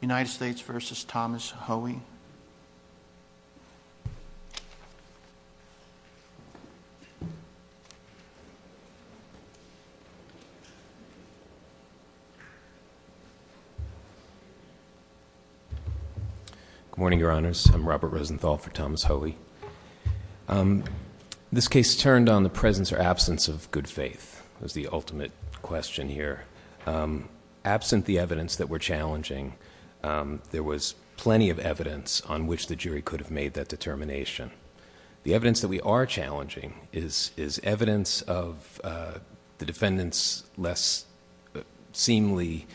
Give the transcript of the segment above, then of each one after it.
United States v. Thomas Hoey Good morning, Your Honors. I'm Robert Rosenthal for Thomas Hoey. This case turned on the presence or absence of good faith. That's the ultimate question here. Absent the evidence that we're challenging, there was plenty of evidence on which the jury could have made that determination. The evidence that we are challenging is evidence of the defendant's less seemly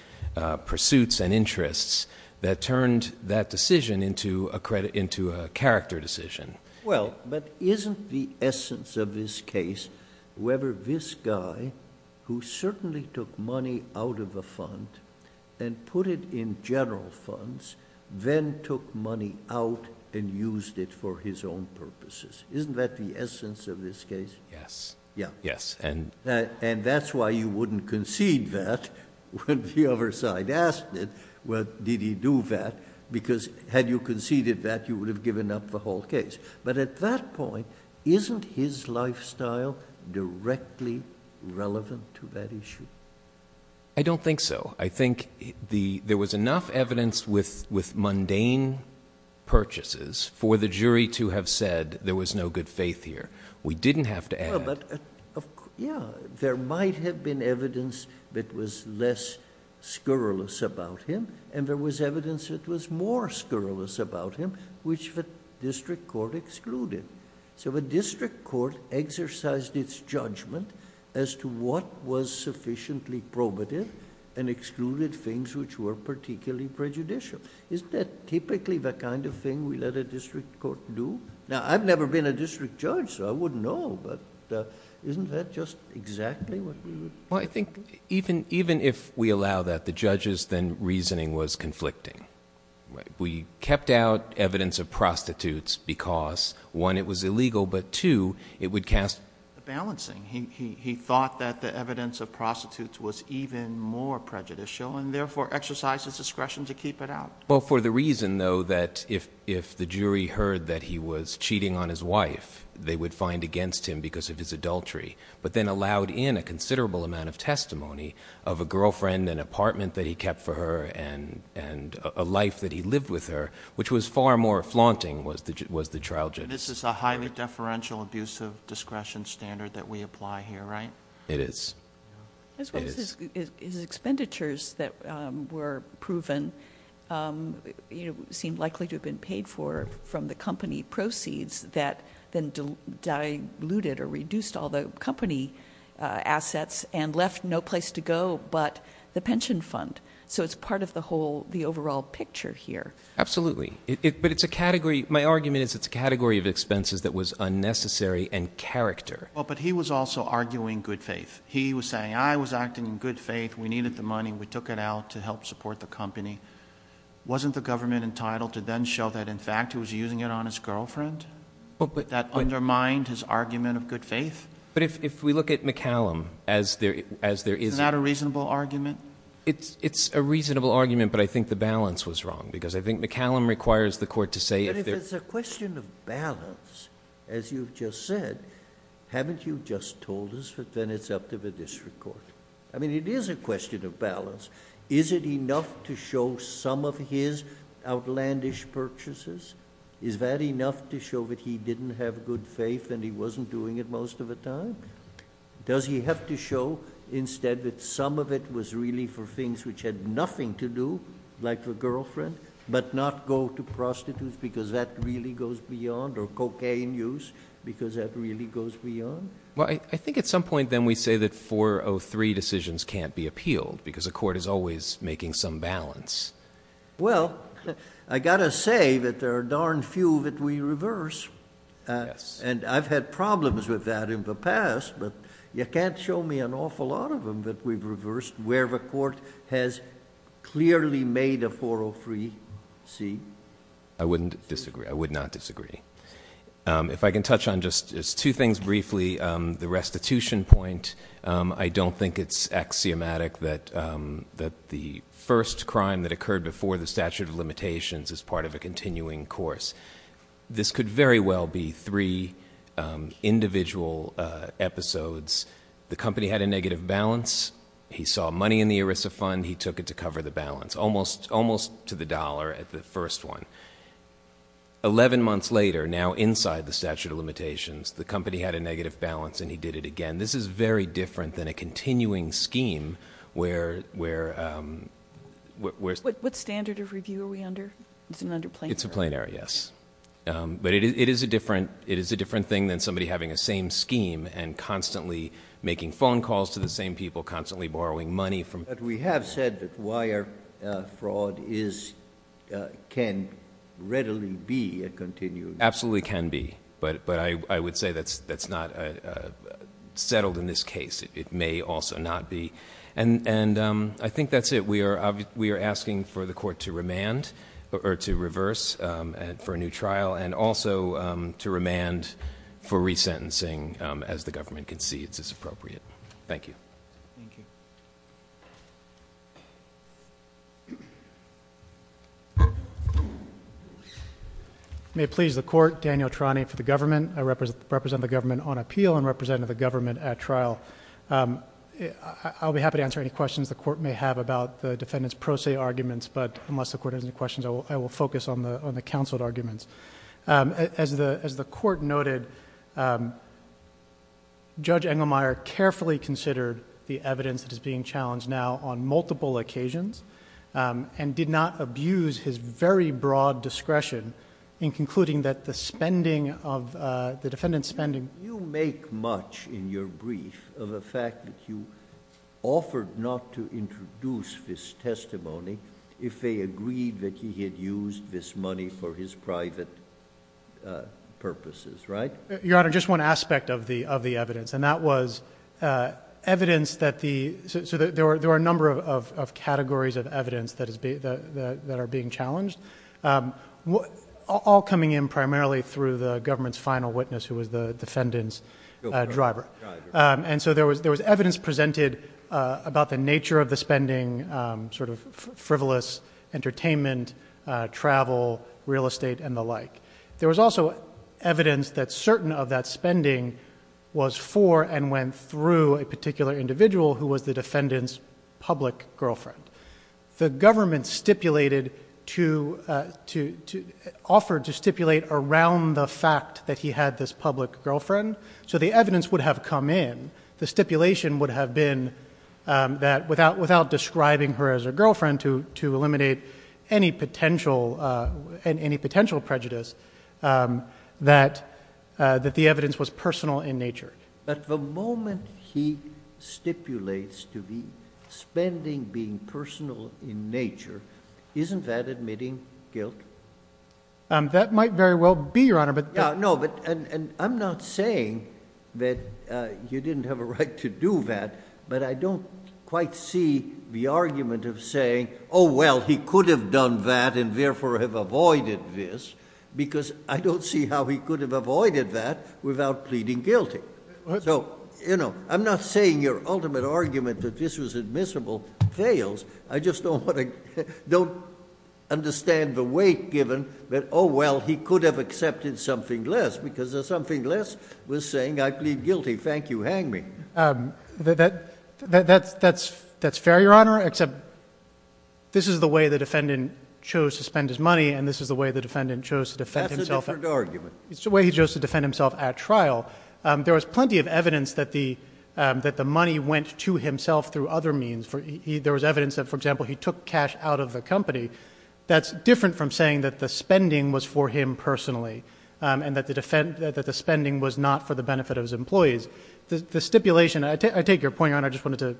pursuits and interests that turned that decision into a character decision. Well, but isn't the essence of this case whether this guy, who certainly took money out of a fund and put it in general funds, then took money out and used it for his own purposes? Isn't that the essence of this case? Yes. Yes. And that's why you wouldn't concede that when the other side asked it. Well, did he do that? Because had you conceded that, you would have given up the whole case. But at that point, isn't his lifestyle directly relevant to that issue? I don't think so. I think there was enough evidence with mundane purchases for the jury to have said there was no good faith here. We didn't have to add Well, but, yeah, there might have been evidence that was less scurrilous about him, and there was evidence that was more scurrilous about him, which the district court excluded. So the district court exercised its judgment as to what was sufficiently probative and excluded things which were particularly prejudicial. Isn't that typically the kind of thing we let a district court do? Now, I've never been a district judge, so I wouldn't know, but isn't that just exactly what we would? Well, I think even if we allow that, the judges' reasoning was conflicting. We kept out evidence of prostitutes because, one, it was illegal, but, two, it would cast a balancing. He thought that the evidence of prostitutes was even more prejudicial and therefore exercised his discretion to keep it out. Well, for the reason, though, that if the jury heard that he was cheating on his wife, they would find against him because of his adultery, but then allowed in a considerable amount of testimony of a girlfriend, an apartment that he kept for her, and a life that he lived with her, which was far more flaunting, was the trial judgment. This is a highly deferential, abusive discretion standard that we apply here, right? It is. His expenditures that were proven seemed likely to have been paid for from the company proceeds that then diluted or reduced all the company assets and left no place to go but the pension fund. So it's part of the overall picture here. Absolutely. But it's a category, my argument is it's a category of expenses that was unnecessary and character. Well, but he was also arguing good faith. He was saying, I was acting in good faith, we needed the money, we took it out to help support the company. Wasn't the government entitled to then show that in fact he was using it on his girlfriend? That undermined his argument of good faith? But if we look at McCallum as there is... Is that a reasonable argument? It's a reasonable argument, but I think the balance was wrong because I think McCallum requires the court to say... But if it's a question of balance, as you've just said, haven't you just told us that then it's up to the district court? I mean, it is a question of balance. Is it enough to show some of his outlandish purchases? Is that enough to show that he didn't have good faith and he wasn't doing it most of the time? Does he have to show instead that some of it was really for cocaine use because that really goes beyond or cocaine use because that really goes beyond? Well, I think at some point then we say that 403 decisions can't be appealed because the court is always making some balance. Well, I got to say that there are darn few that we reverse. And I've had problems with that in the past, but you can't show me an awful lot of them that we've reversed where the court has clearly made a 403C. I wouldn't disagree. I would not disagree. If I can touch on just two things briefly, the restitution point, I don't think it's axiomatic that the first crime that occurred before the statute of limitations is part of a continuing course. This could very well be three individual episodes. The company had a negative balance. He saw money in the ERISA fund. He took it to cover the balance, almost to the dollar at the first one. Eleven months later, now inside the statute of limitations, the company had a negative balance and he did it again. This is very different than a continuing scheme where... What standard of review are we under? It's an under planar. It's a planar, yes. But it is a different thing than somebody having a same scheme and constantly making phone calls to the same people, constantly borrowing money from... But we have said that wire fraud can readily be a continuing... Absolutely can be. But I would say that's not settled in this case. It may also not be. And I think that's it. We are asking for the court to remand or to reverse for a new trial and also to remand for resentencing as the government concedes is appropriate. Thank you. Thank you. May it please the court. Daniel Trani for the government. I represent the government on appeal and represent the government at trial. I'll be happy to answer any questions the court may have about the defendant's pro se arguments, but unless the court has any questions, I will focus on the counseled arguments. As the court noted, Judge Engelmeyer carefully considered the evidence that is being challenged now on multiple occasions and did not abuse his very broad discretion in concluding that the defendant's spending... You make much in your brief of the fact that you offered not to introduce this testimony if they agreed that he had used this money for his private purposes, right? Your Honor, just one aspect of the evidence, and that was evidence that the... All coming in primarily through the government's final witness who was the defendant's driver. And so there was evidence presented about the nature of the spending, sort of frivolous entertainment, travel, real estate, and the like. There was also evidence that certain of that spending was for and went through a particular individual who was the defendant's public girlfriend. The government stipulated to... Offered to stipulate around the fact that he had this public girlfriend, so the evidence would have come in. The stipulation would have been that without describing her as a girlfriend to eliminate any potential prejudice, that the defendant's spending being personal in nature, isn't that admitting guilt? That might very well be, Your Honor. I'm not saying that you didn't have a right to do that, but I don't quite see the argument of saying, oh, well, he could have done that and therefore have avoided this, because I don't see how he could have avoided that without pleading guilty. I'm not saying your ultimate argument that this was admissible fails. I just don't understand the weight given that, oh, well, he could have accepted something less, because something less was saying, I plead guilty, thank you, hang me. That's fair, Your Honor, except this is the way the defendant chose to spend his money and this is the way the defendant chose to defend himself at trial. There was plenty of evidence that the money went to himself through other means. There was evidence that, for example, he took cash out of the company. That's different from saying that the spending was for him personally and that the spending was not for the benefit of his employees. The stipulation, I take your point, Your Honor, I just wanted to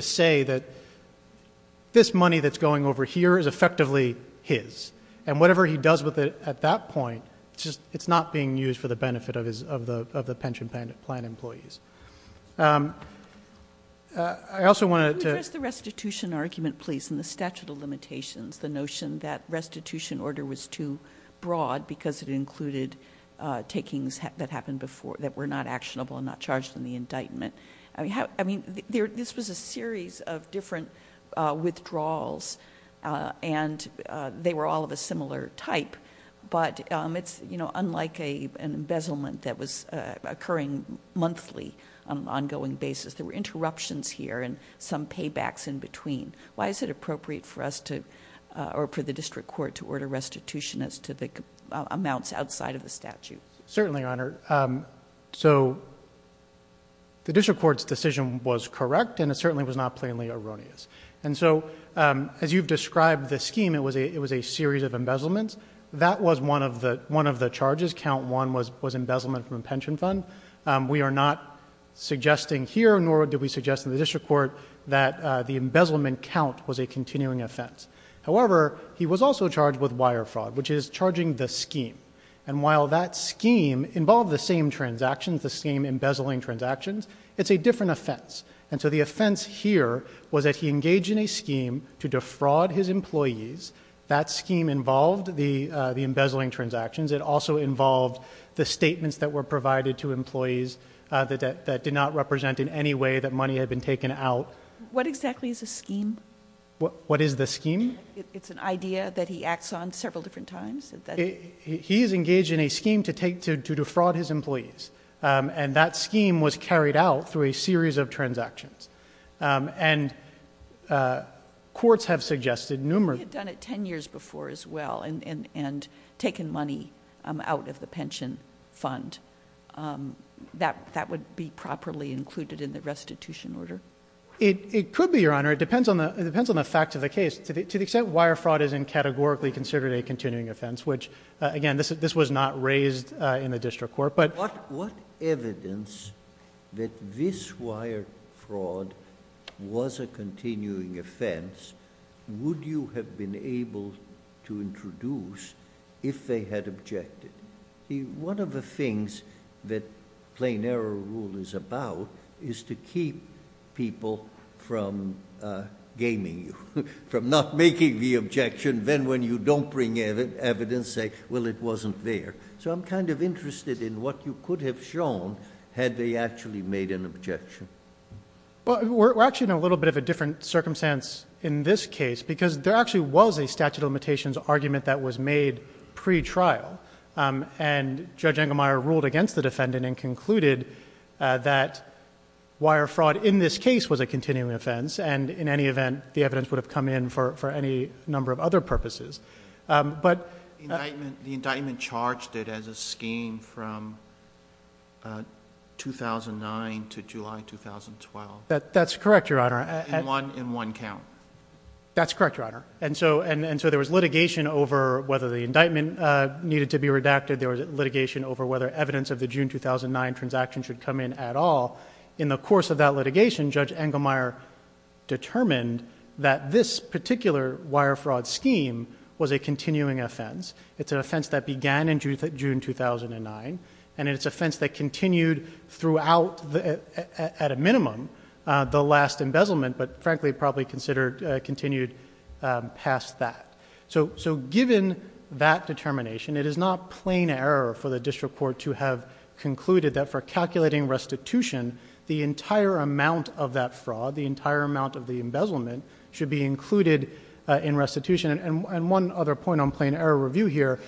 say this money that's going over here is effectively his, and whatever he does with it at that point, it's not being used for the benefit of the pension plan employees. I also wanted to — Can you address the restitution argument, please, and the statute of limitations, the notion that restitution order was too broad because it included takings that happened before that were not actionable and not charged in the indictment? This was a series of different withdrawals and they were all of a similar type, but it's unlike an embezzlement that was occurring monthly on an ongoing basis. There were interruptions here and some paybacks in between. Why is it appropriate for us to, or for the district court to order restitution as to the amounts outside of the statute? Certainly, Your Honor. The district court's decision was correct and it certainly was not plainly erroneous. As you've described the scheme, it was a series of embezzlements. That was one of the charges. Count 1 was embezzlement from a pension fund. We are not suggesting here, nor did we suggest in the district court that the embezzlement count was a continuing offense. However, he was also charged with wire fraud, which is charging the scheme. While that scheme involved the same transactions, the same embezzling transactions, it's a different offense. The offense here was that he engaged in a scheme to defraud his employees. That scheme involved the embezzling transactions. It also involved the statements that were What exactly is a scheme? What is the scheme? It's an idea that he acts on several different times. He is engaged in a scheme to defraud his employees. That scheme was carried out through a series of transactions. Courts have suggested numerous... He had done it 10 years before as well and taken money out of the pension fund. That would be properly included in the restitution order. It could be, Your Honor. It depends on the fact of the case. To the extent wire fraud isn't categorically considered a continuing offense, which again, this was not raised in the district court. What evidence that this wire fraud was a continuing offense would you have been able to introduce if they had objected? One of the things that plain error rule is about is to keep people from gaming you, from not making the objection. Then when you don't bring evidence, say, well it wasn't there. I'm kind of interested in what you could have shown had they actually made an objection. We're actually in a little bit of a different circumstance in this case because there actually was a statute of limitations argument that was made pre-trial. Judge Engelmeyer ruled against the defendant and concluded that wire fraud in this case was a continuing offense. In any event, the evidence would have come in for any number of other purposes. The indictment charged it as a scheme from 2009 to July 2012. That's correct, Your Honor. In one count. That's correct, Your Honor. There was litigation over whether the indictment needed to be redacted. There was litigation over whether evidence of the June 2009 transaction should come in at all. In the course of that litigation, Judge Engelmeyer determined that this particular wire fraud scheme was a continuing offense. It's an offense that began in June 2009. It's an offense that continued throughout, at a minimum, the last embezzlement, but frankly probably continued past that. Given that determination, it is not plain error for the district court to have concluded that for calculating restitution, the entire amount of that fraud, the entire amount of the embezzlement, should be included in restitution. One other point on plain error review here,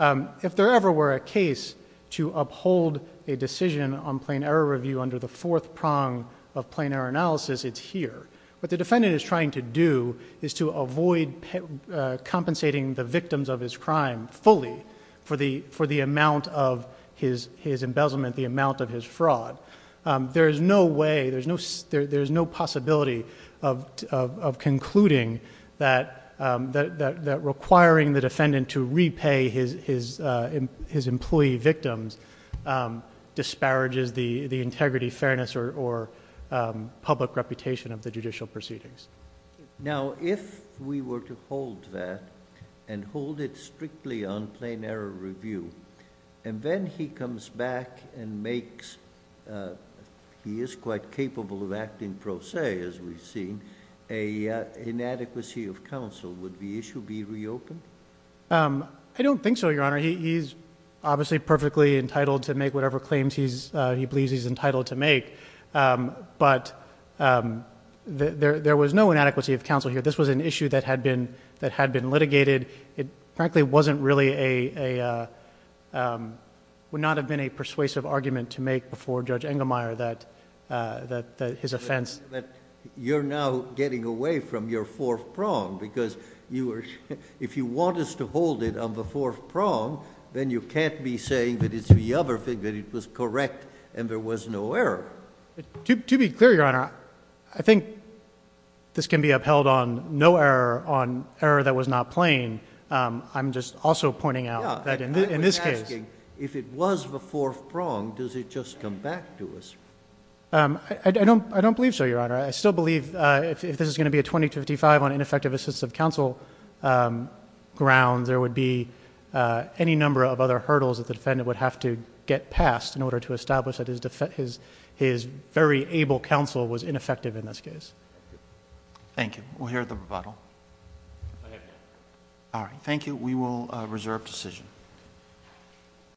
if there ever were a case to uphold a decision on plain error review under the fourth prong of plain error analysis, it's here. What the defendant is trying to do is to avoid compensating the victims of his crime fully for the amount of his embezzlement, the amount of his fraud. There is no way, there's no possibility of concluding that requiring the defendant to repay his employee victims disparages the integrity, fairness, or public reputation of the judicial proceedings. Now, if we were to hold that and hold it strictly on plain error review, and then he comes back and makes, he is quite capable of acting pro se, as we've seen, an inadequacy of counsel, would the issue be reopened? I don't think so, Your Honor. He's obviously perfectly entitled to make whatever claims he wants to make. There was no inadequacy of counsel here. This was an issue that had been litigated. It frankly wasn't really a, would not have been a persuasive argument to make before Judge Engelmeyer that his offense... But you're now getting away from your fourth prong, because if you want us to hold it on the fourth prong, then you can't be saying that it's the other thing, that it was correct, and there was no error. To be clear, Your Honor, I think this can be upheld on no error, on error that was not plain. I'm just also pointing out that in this case... I was asking, if it was the fourth prong, does it just come back to us? I don't believe so, Your Honor. I still believe if this is going to be a 20-55 on ineffective assistive counsel grounds, there would be any number of other hurdles that the defendant would have to get past in order to establish that his very able counsel was ineffective in this case. Thank you. We'll hear the rebuttal. All right. Thank you. We will reserve decision.